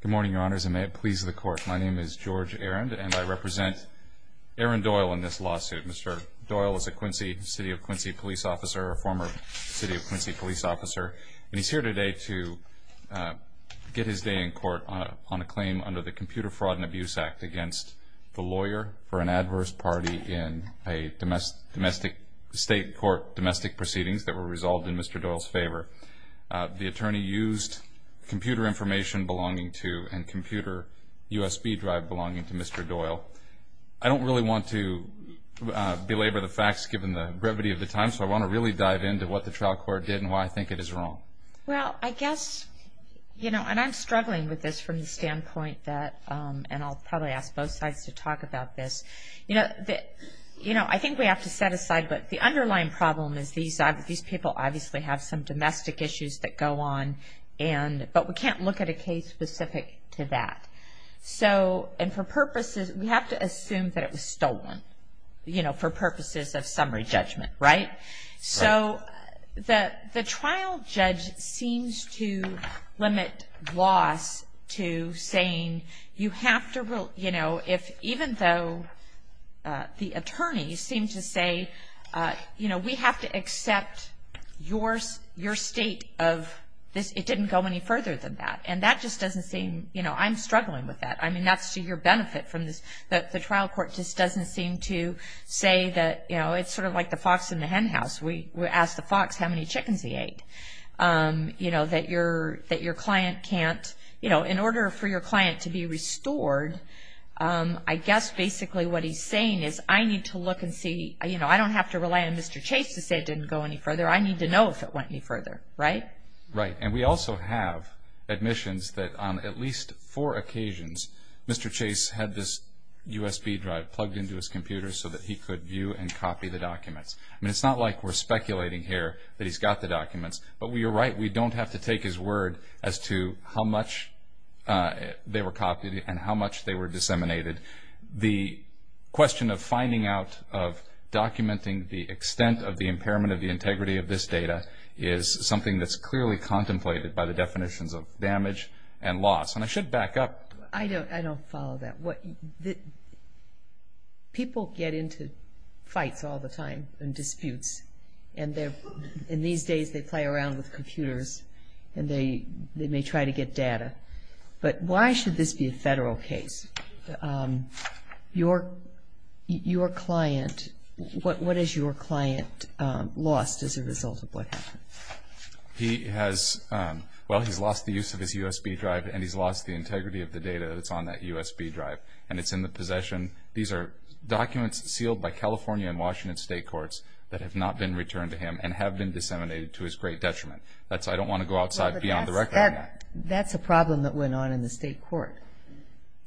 Good morning, your honors, and may it please the court. My name is George Arend, and I represent Aaron Doyle in this lawsuit. Mr. Doyle is a Quincy, City of Quincy police officer, a former City of Quincy police officer, and he's here today to get his day in court on a claim under the Computer Fraud and Abuse Act against the lawyer for an adverse party in a domestic state court, domestic proceedings that were resolved in Mr. Doyle's favor. The attorney used computer information belonging to and computer USB drive belonging to Mr. Doyle. I don't really want to belabor the facts given the brevity of the time, so I want to really dive into what the trial court did and why I think it is wrong. Well, I guess, you know, and I'm struggling with this from the standpoint that, and I'll probably ask both sides to talk about this, you know, I think we have to set aside, but the underlying problem is these people obviously have some domestic issues that go on, but we can't look at a case specific to that. So, and for purposes, we have to assume that it was stolen, you know, for purposes of summary judgment, right? So, the trial judge seems to limit loss to saying you have to, you know, if even though the attorneys seem to say, you know, we have to accept your state of this, it didn't go any further than that. And that just doesn't seem, you know, I'm struggling with that. I mean, that's to your benefit from this, that the trial court just doesn't seem to say that, you know, it's sort of like the fox and the hen house. We asked the fox how many chickens he ate. You know, that your client can't, you know, in order for your client to be restored, I guess basically what he's saying is I need to look and see, you know, I don't have to rely on Mr. Chase to say it didn't go any further. I need to know if it went any further, right? Right. And we also have admissions that on at least four occasions, Mr. Chase had this USB drive plugged into his computer so that he could view and copy the documents. I mean, it's not like we're speculating here that he's got the documents, but you're right, we don't have to take his word as to how much they were copied and how much they were disseminated. The question of finding out, of documenting the extent of the impairment of the integrity of this data is something that's clearly contemplated by the definitions of damage and loss. And I should back up. I don't follow that. People get into fights all the time and disputes, and these days they play around with computers and they may try to get data. But why should this be a federal case? Your client, what has your client lost as a result of what happened? He has, well, he's lost the use of his USB drive and he's lost the integrity of the data that's on that USB drive, and it's in the possession. These are documents sealed by California and Washington state courts that have not been returned to him and have been disseminated to his great detriment. That's, I don't want to go outside beyond the record on that. That's a problem that went on in the state court.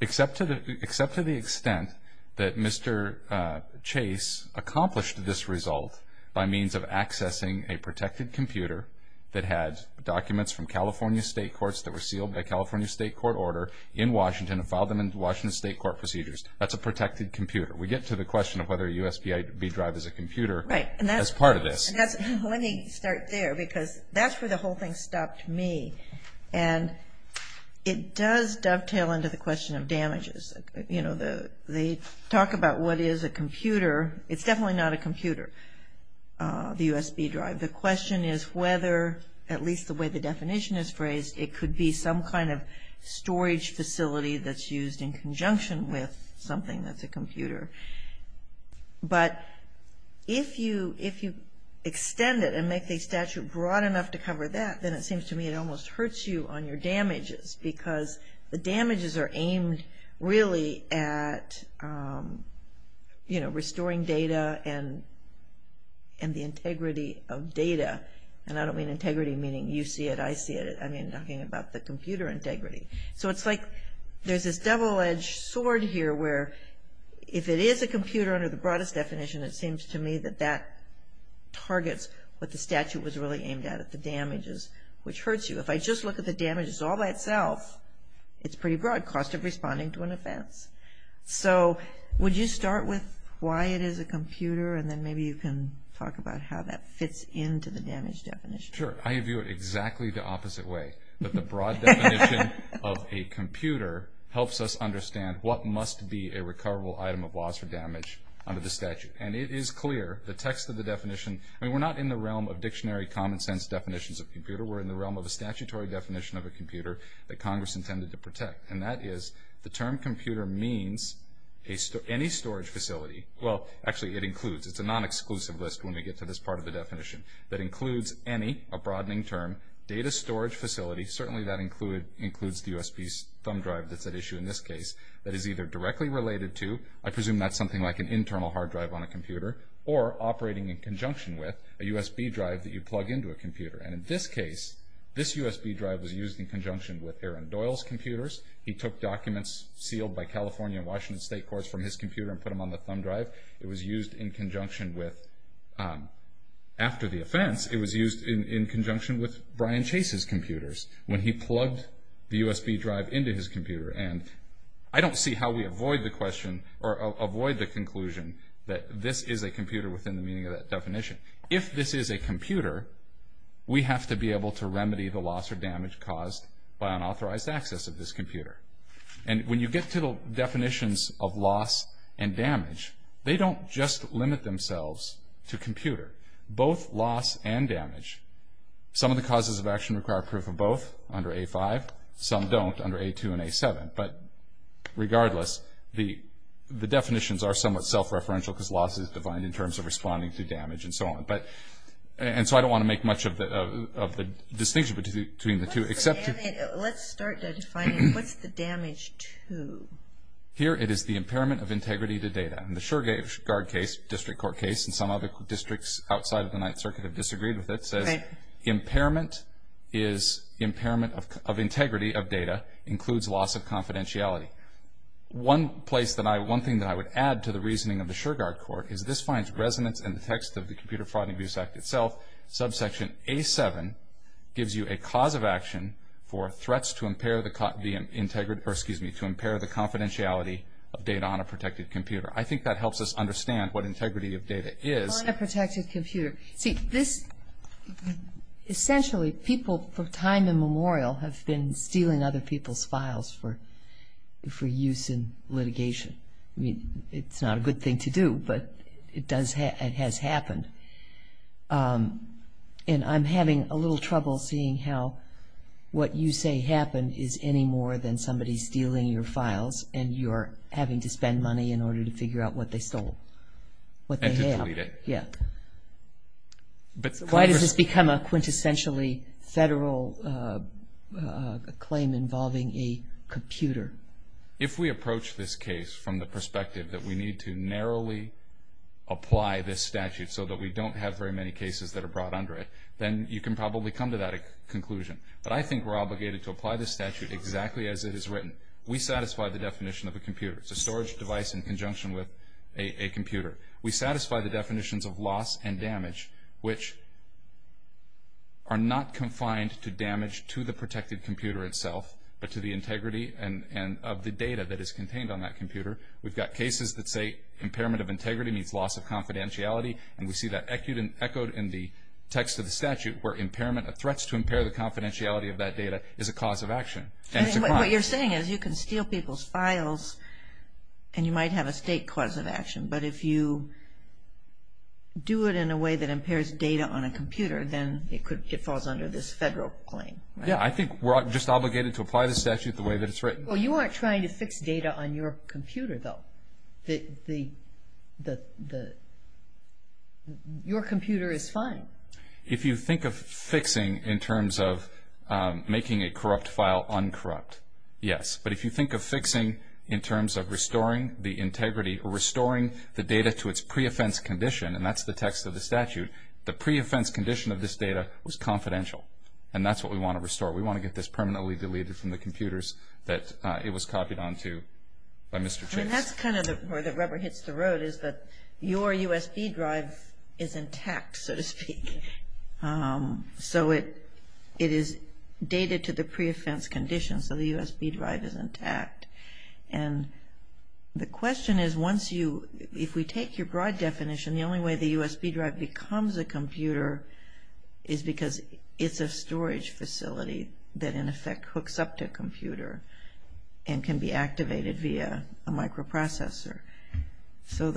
Except to the extent that Mr. Chase accomplished this result by means of accessing a protected computer that had documents from California state courts that were sealed by California state court order in Washington and filed them in Washington state court procedures. That's a protected computer. We get to the question of whether a USB drive is a computer as part of this. Let me start there because that's where the whole thing stopped me. And it does dovetail into the question of damages. You know, they talk about what is a computer. It's definitely not a computer, the USB drive. The question is whether, at least the way the definition is phrased, it could be some kind of storage facility that's used in conjunction with something that's a computer. But if you extend it and make the statute broad enough to cover that, then it seems to me it almost hurts you on your damages because the damages are aimed really at, you know, restoring data and the integrity of data. And I don't mean integrity meaning you see it, I see it. I mean talking about the computer integrity. So it's like there's this double-edged sword here where if it is a computer under the broadest definition, it seems to me that that targets what the statute was really aimed at, at the damages, which hurts you. If I just look at the damages all by itself, it's pretty broad, cost of responding to an offense. So would you start with why it is a computer and then maybe you can talk about how that fits into the damage definition. Sure. I view it exactly the opposite way, that the broad definition of a computer helps us understand what must be a recoverable item of loss or damage under the statute. And it is clear, the text of the definition, I mean we're not in the realm of dictionary common sense definitions of computer, we're in the realm of a statutory definition of a computer that Congress intended to protect. And that is, the term computer means any storage facility, well actually it includes, it's a non-exclusive list when we get to this part of the definition, that includes any a broadening term, data storage facility, certainly that includes the USB thumb drive that's at issue in this case, that is either directly related to, I presume that's something like an internal hard drive on a computer, or operating in conjunction with a USB drive that you plug into a computer. And in this case, this USB drive was used in conjunction with Aaron Doyle's computers. He took documents sealed by California and Washington state courts from his computer and put them on the thumb drive. It was used in conjunction with, after the offense, it was used in conjunction with Brian Chase's computers when he plugged the USB drive into his computer. And I don't see how we avoid the question, or avoid the conclusion that this is a computer within the meaning of that definition. If this is a computer, we have to be able to remedy the loss or damage caused by unauthorized access of this computer. And when you get to the definitions of loss and damage, they don't just limit themselves to computer. Both loss and damage, some of the causes of action require proof of both under A-5, some don't under A-2 and A-7. But regardless, the definitions are somewhat self-referential because loss is defined in terms of responding to damage and so on. And so I don't want to make much of the distinction between the two, except to- Let's start by defining, what's the damage to? Here, it is the impairment of integrity to data. And the Sureguard case, district court case, and some other districts outside of the Ninth Circuit have disagreed with it, says impairment is impairment of integrity of data includes loss of confidentiality. One thing that I would add to the reasoning of the Sureguard court is this finds resonance in the text of the Computer Fraud and Abuse Act itself. Subsection A-7 gives you a cause of action for threats to impair the confidentiality of data on a protected computer. I think that helps us understand what integrity of data is. See, this, essentially, people for time immemorial have been stealing other people's files for use in litigation. I mean, it's not a good thing to do, but it has happened. And I'm having a little trouble seeing how what you say happened is any more than somebody stealing your files and you're having to spend money in order to figure out what they stole. And to delete it. Yeah. Why does this become a quintessentially federal claim involving a computer? If we approach this case from the perspective that we need to narrowly apply this statute so that we don't have very many cases that are brought under it, then you can probably come to that conclusion. But I think we're obligated to apply this statute exactly as it is written. We satisfy the definition of a computer. It's a storage device in conjunction with a computer. We satisfy the definitions of loss and damage, which are not confined to damage to the protected computer itself, but to the integrity of the data that is contained on that computer. We've got cases that say impairment of integrity means loss of confidentiality, and we see that echoed in the text of the statute, where threats to impair the confidentiality of that data is a cause of action. What you're saying is you can steal people's files and you might have a state cause of action, but if you do it in a way that impairs data on a computer, then it falls under this federal claim. Yeah. I think we're just obligated to apply the statute the way that it's written. Well, you aren't trying to fix data on your computer, though. Your computer is fine. If you think of fixing in terms of making a corrupt file uncorrupt, yes. But if you think of fixing in terms of restoring the integrity or restoring the data to its pre-offense condition, and that's the text of the statute, the pre-offense condition of this data was confidential. And that's what we want to restore. We want to get this permanently deleted from the computers that it was copied onto by Mr. Chase. And that's kind of where the rubber hits the road is that your USB drive is intact, so to speak. So it is dated to the pre-offense condition, so the USB drive is intact. And the question is, if we take your broad definition, the only way the USB drive becomes a computer is because it's a storage facility that in effect hooks up to a computer and can be activated via a microprocessor. So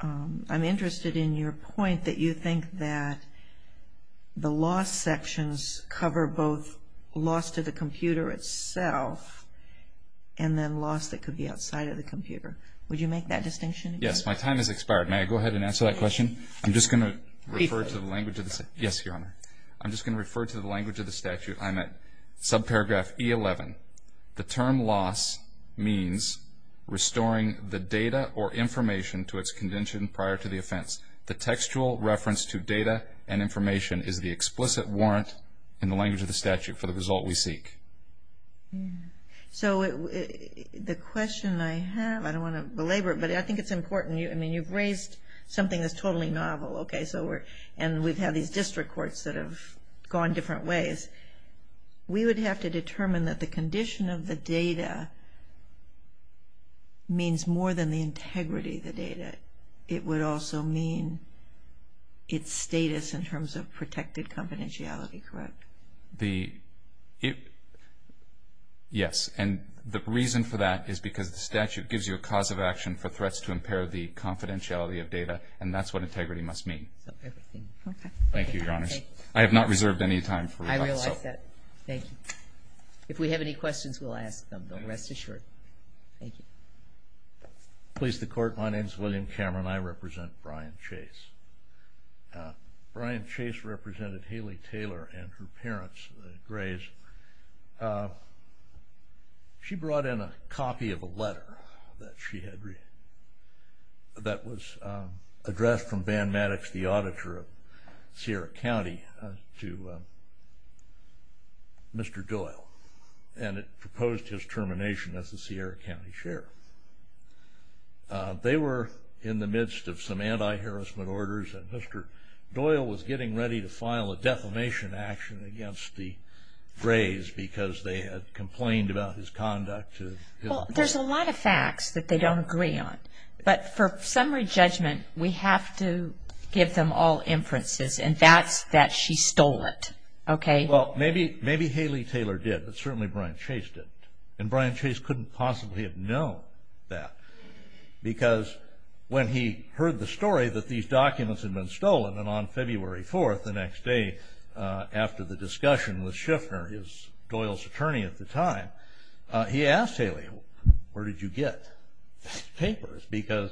I'm interested in your point that you think that the loss sections cover both loss to the computer itself and then loss that could be outside of the computer. Would you make that distinction? Yes. My time has expired. May I go ahead and answer that question? I'm just going to refer to the language of the statute. Yes, Your Honor. So the question I have, I don't want to belabor it, but I think it's important. I mean, you've raised something that's totally novel, okay, and we've had these district courts that have gone different ways. We would have to determine that the condition of the data means more than the integrity of the data. It would also mean its status in terms of protected confidentiality, correct? Yes, and the reason for that is because the statute gives you a cause of action for threats to impair the confidentiality of data, and that's what integrity must mean. Okay. Thank you, Your Honors. I have not reserved any time for rebuttal. I realize that. Thank you. If we have any questions, we'll ask them, though, rest assured. Thank you. Police, the Court. My name is William Cameron. I represent Brian Chase. Brian Chase represented Haley Taylor and her parents, the Grays. She brought in a copy of a letter that was addressed from Van Maddox, the auditor of Sierra County, to Mr. Doyle, and it proposed his termination as the Sierra County sheriff. They were in the midst of some anti-harassment orders, and Mr. Doyle was getting ready to file a defamation action against the Grays because they had complained about his conduct. Well, there's a lot of facts that they don't agree on, but for summary judgment, we have to give them all inferences, and that's that she stole it, okay? Well, maybe Haley Taylor did, but certainly Brian Chase didn't, and Brian Chase couldn't possibly have known that because when he heard the story that these documents had been stolen, and on February 4th, the next day after the discussion with Shiffner, Doyle's attorney at the time, he asked Haley, where did you get these papers? Because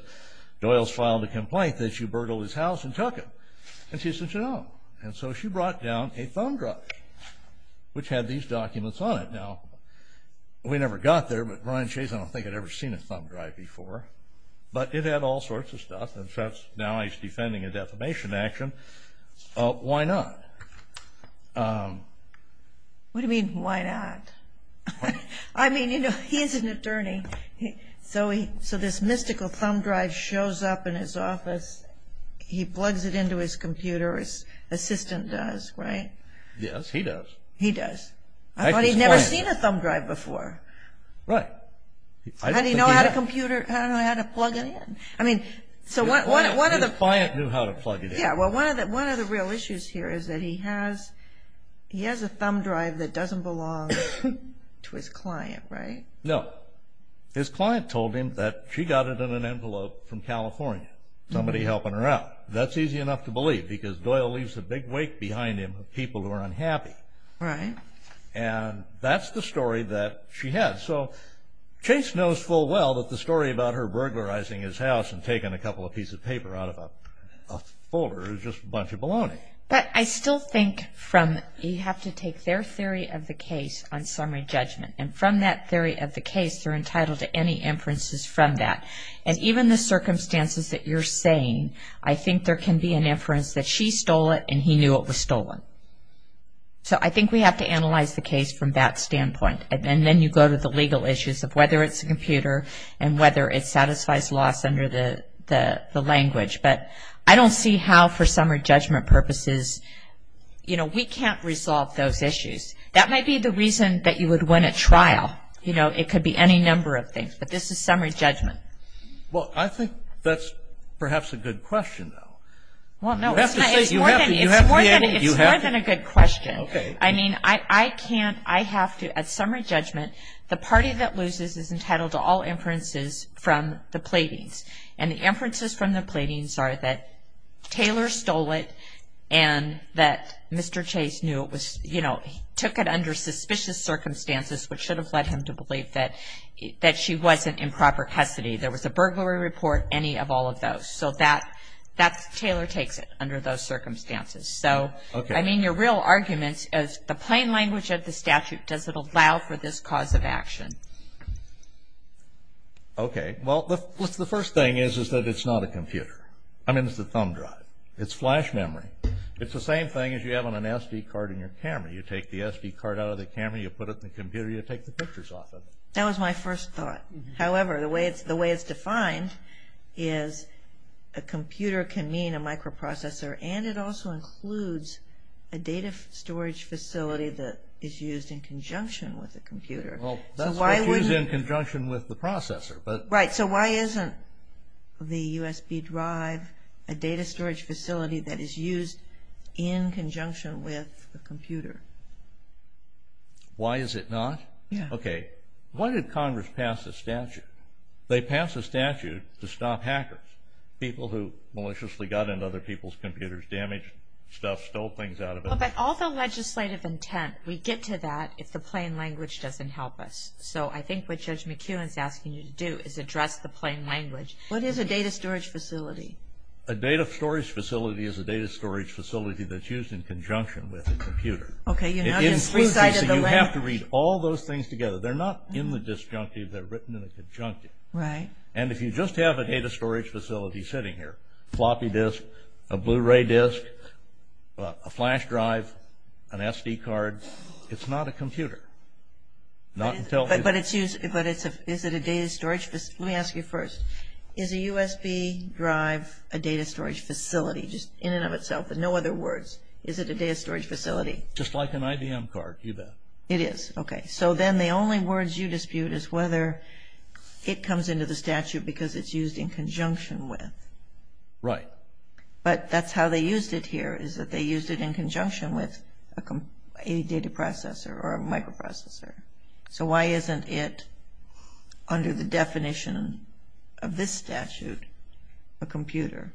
Doyle's filed a complaint that she burgled his house and took them. And she said, no. And so she brought down a thumb drive, which had these documents on it. Now, we never got there, but Brian Chase, I don't think, had ever seen a thumb drive before. But it had all sorts of stuff, and so now he's defending a defamation action. Why not? What do you mean, why not? I mean, you know, he's an attorney, so this mystical thumb drive shows up in his office. He plugs it into his computer, his assistant does, right? Yes, he does. He does. I thought he'd never seen a thumb drive before. Right. How did he know how to plug it in? His client knew how to plug it in. Yeah, well, one of the real issues here is that he has a thumb drive that doesn't belong to his client, right? No. His client told him that she got it in an envelope from California, somebody helping her out. That's easy enough to believe, because Doyle leaves a big wake behind him of people who are unhappy. Right. And that's the story that she has. So Chase knows full well that the story about her burglarizing his house and taking a couple of pieces of paper out of a folder is just a bunch of baloney. But I still think you have to take their theory of the case on summary judgment, and from that theory of the case they're entitled to any inferences from that. And even the circumstances that you're saying, I think there can be an inference that she stole it and he knew it was stolen. So I think we have to analyze the case from that standpoint. And then you go to the legal issues of whether it's a computer and whether it satisfies laws under the language. But I don't see how for summary judgment purposes, you know, we can't resolve those issues. That might be the reason that you would win a trial. You know, it could be any number of things. But this is summary judgment. Well, I think that's perhaps a good question, though. Well, no, it's more than a good question. Okay. I mean, I can't, I have to, at summary judgment, the party that loses is entitled to all inferences from the platings. And the inferences from the platings are that Taylor stole it and that Mr. Chase knew it was, you know, took it under suspicious circumstances, which should have led him to believe that she wasn't in proper custody. There was a burglary report, any of all of those. So that's, Taylor takes it under those circumstances. So, I mean, your real argument is the plain language of the statute, does it allow for this cause of action? Okay. Well, the first thing is that it's not a computer. I mean, it's a thumb drive. It's flash memory. It's the same thing as you have on an SD card in your camera. You take the SD card out of the camera, you put it in the computer, you take the pictures off of it. That was my first thought. However, the way it's defined is a computer can mean a microprocessor and it also includes a data storage facility that is used in conjunction with a computer. Well, that's what's used in conjunction with the processor. Right. So why isn't the USB drive a data storage facility that is used in conjunction with a computer? Why is it not? Yeah. Okay. Why did Congress pass a statute? They passed a statute to stop hackers, people who maliciously got into other people's computers, damaged stuff, stole things out of them. But all the legislative intent, we get to that if the plain language doesn't help us. So I think what Judge McKeown is asking you to do is address the plain language. What is a data storage facility? A data storage facility is a data storage facility that's used in conjunction with a computer. Okay. You have to read all those things together. They're not in the disjunctive, they're written in the conjunctive. Right. And if you just have a data storage facility sitting here, floppy disk, a Blu-ray disk, a flash drive, an SD card, it's not a computer. But is it a data storage facility? Let me ask you first. Is a USB drive a data storage facility just in and of itself with no other words? Is it a data storage facility? Just like an IBM card, you bet. It is. Okay. So then the only words you dispute is whether it comes into the statute because it's used in conjunction with. Right. But that's how they used it here is that they used it in conjunction with a data processor or a microprocessor. So why isn't it under the definition of this statute a computer?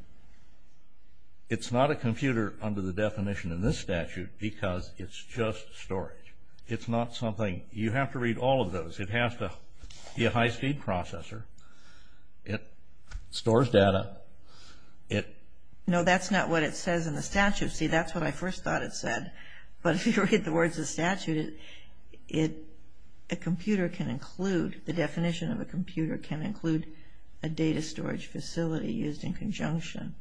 It's not a computer under the definition of this statute because it's just storage. It's not something you have to read all of those. It has to be a high-speed processor. It stores data. No, that's not what it says in the statute. See, that's what I first thought it said. But if you read the words of the statute, a computer can include, the definition of a computer can include a data storage facility used in conjunction.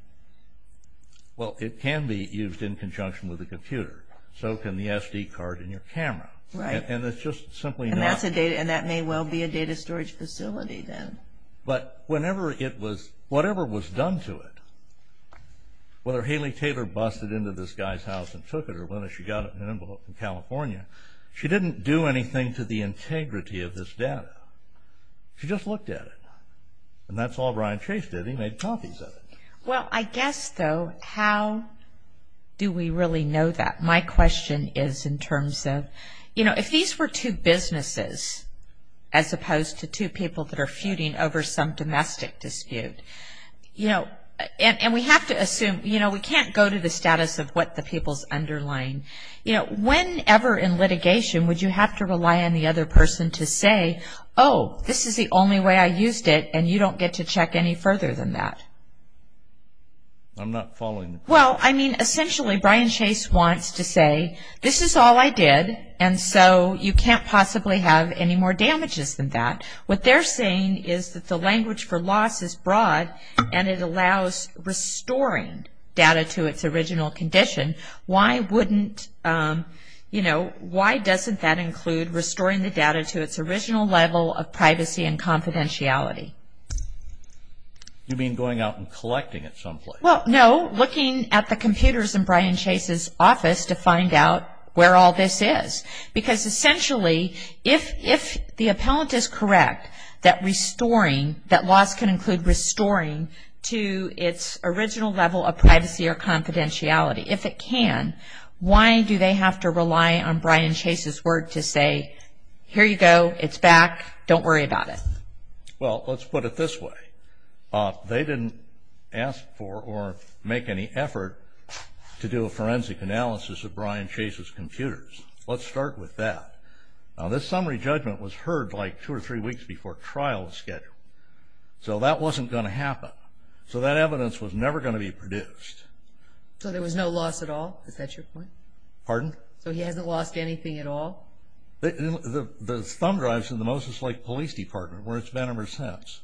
Well, it can be used in conjunction with a computer. So can the SD card in your camera. Right. And it's just simply not. And that may well be a data storage facility then. But whatever was done to it, whether Haley Taylor busted into this guy's house and took it or whether she got it in an envelope from California, she didn't do anything to the integrity of this data. She just looked at it. And that's all Brian Chase did. He made copies of it. Well, I guess, though, how do we really know that? My question is in terms of, you know, if these were two businesses as opposed to two people that are feuding over some domestic dispute, you know, and we have to assume, you know, we can't go to the status of what the people's underlying. You know, whenever in litigation would you have to rely on the other person to say, oh, this is the only way I used it and you don't get to check any further than that? I'm not following. Well, I mean, essentially Brian Chase wants to say, this is all I did, and so you can't possibly have any more damages than that. What they're saying is that the language for loss is broad and it allows restoring data to its original condition. Why wouldn't, you know, why doesn't that include restoring the data to its original level of privacy and confidentiality? You mean going out and collecting it someplace? Well, no, looking at the computers in Brian Chase's office to find out where all this is. Because, essentially, if the appellant is correct that restoring, that loss can include restoring to its original level of privacy or confidentiality. If it can, why do they have to rely on Brian Chase's word to say, here you go, it's back, don't worry about it? Well, let's put it this way. They didn't ask for or make any effort to do a forensic analysis of Brian Chase's computers. Let's start with that. Now, this summary judgment was heard like two or three weeks before trial was scheduled. So that wasn't going to happen. So that evidence was never going to be produced. So there was no loss at all? Is that your point? Pardon? So he hasn't lost anything at all? The thumb drives in the Moses Lake Police Department where it's been ever since.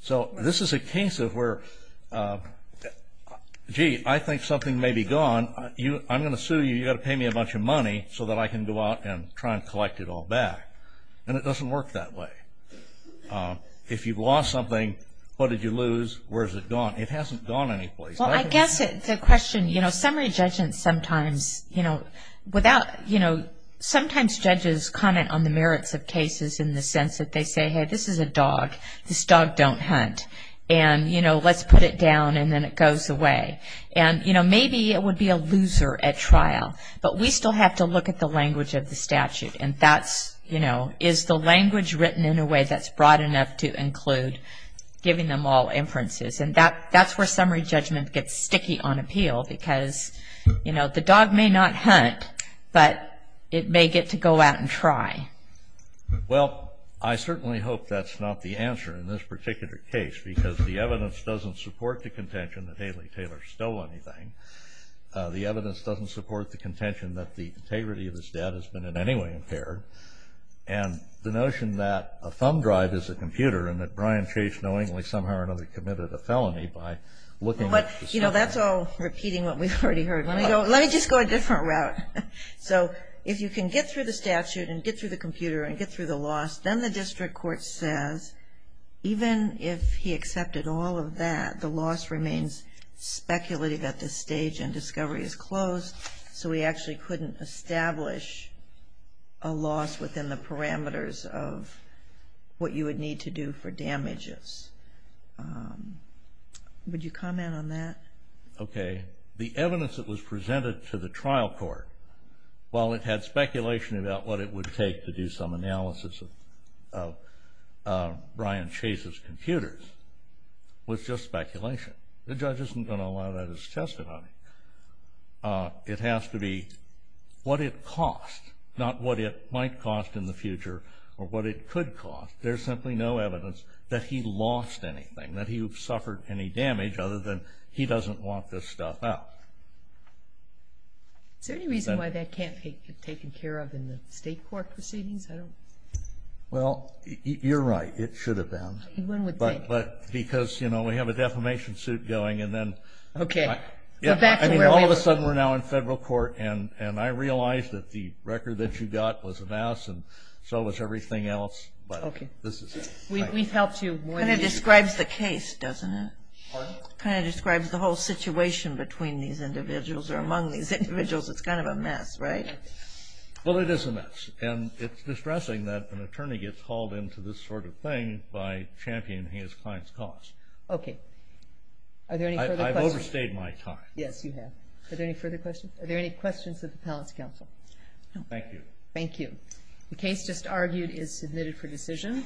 So this is a case of where, gee, I think something may be gone. I'm going to sue you. You've got to pay me a bunch of money so that I can go out and try and collect it all back. And it doesn't work that way. If you've lost something, what did you lose? Where is it gone? It hasn't gone anyplace. Well, I guess the question, you know, summary judgment sometimes, you know, without, you know, sometimes judges comment on the merits of cases in the sense that they say, hey, this is a dog. This dog don't hunt. And, you know, let's put it down, and then it goes away. And, you know, maybe it would be a loser at trial. But we still have to look at the language of the statute. And that's, you know, is the language written in a way that's broad enough to include giving them all inferences? And that's where summary judgment gets sticky on appeal because, you know, the dog may not hunt, but it may get to go out and try. Well, I certainly hope that's not the answer in this particular case because the evidence doesn't support the contention that Haley Taylor stole anything. The evidence doesn't support the contention that the integrity of his debt has been in any way impaired. And the notion that a thumb drive is a computer and that Brian Chase knowingly somehow or another committed a felony by looking at the thumb drive. But, you know, that's all repeating what we've already heard. Let me just go a different route. So if you can get through the statute and get through the computer and get through the loss, then the district court says even if he accepted all of that, the loss remains speculative at this stage and discovery is closed. So we actually couldn't establish a loss within the parameters of what you would need to do for damages. Would you comment on that? Okay. The evidence that was presented to the trial court, while it had speculation about what it would take to do some analysis of Brian Chase's computers, was just speculation. The judge isn't going to allow that as testimony. It has to be what it cost, not what it might cost in the future or what it could cost. There's simply no evidence that he lost anything, that he suffered any damage other than he doesn't want this stuff out. Is there any reason why that can't be taken care of in the state court proceedings? Well, you're right. It should have been. One would think. Because we have a defamation suit going. All of a sudden we're now in federal court and I realize that the record that you got was a mess and so was everything else. It kind of describes the case, doesn't it? It kind of describes the whole situation between these individuals or among these individuals. It's kind of a mess, right? Well, it is a mess. And it's distressing that an attorney gets hauled into this sort of thing by championing his client's cause. I've overstayed my time. Yes, you have. Are there any further questions? Are there any questions of the Palace Counsel? Thank you. Thank you. The case just argued is submitted for decision.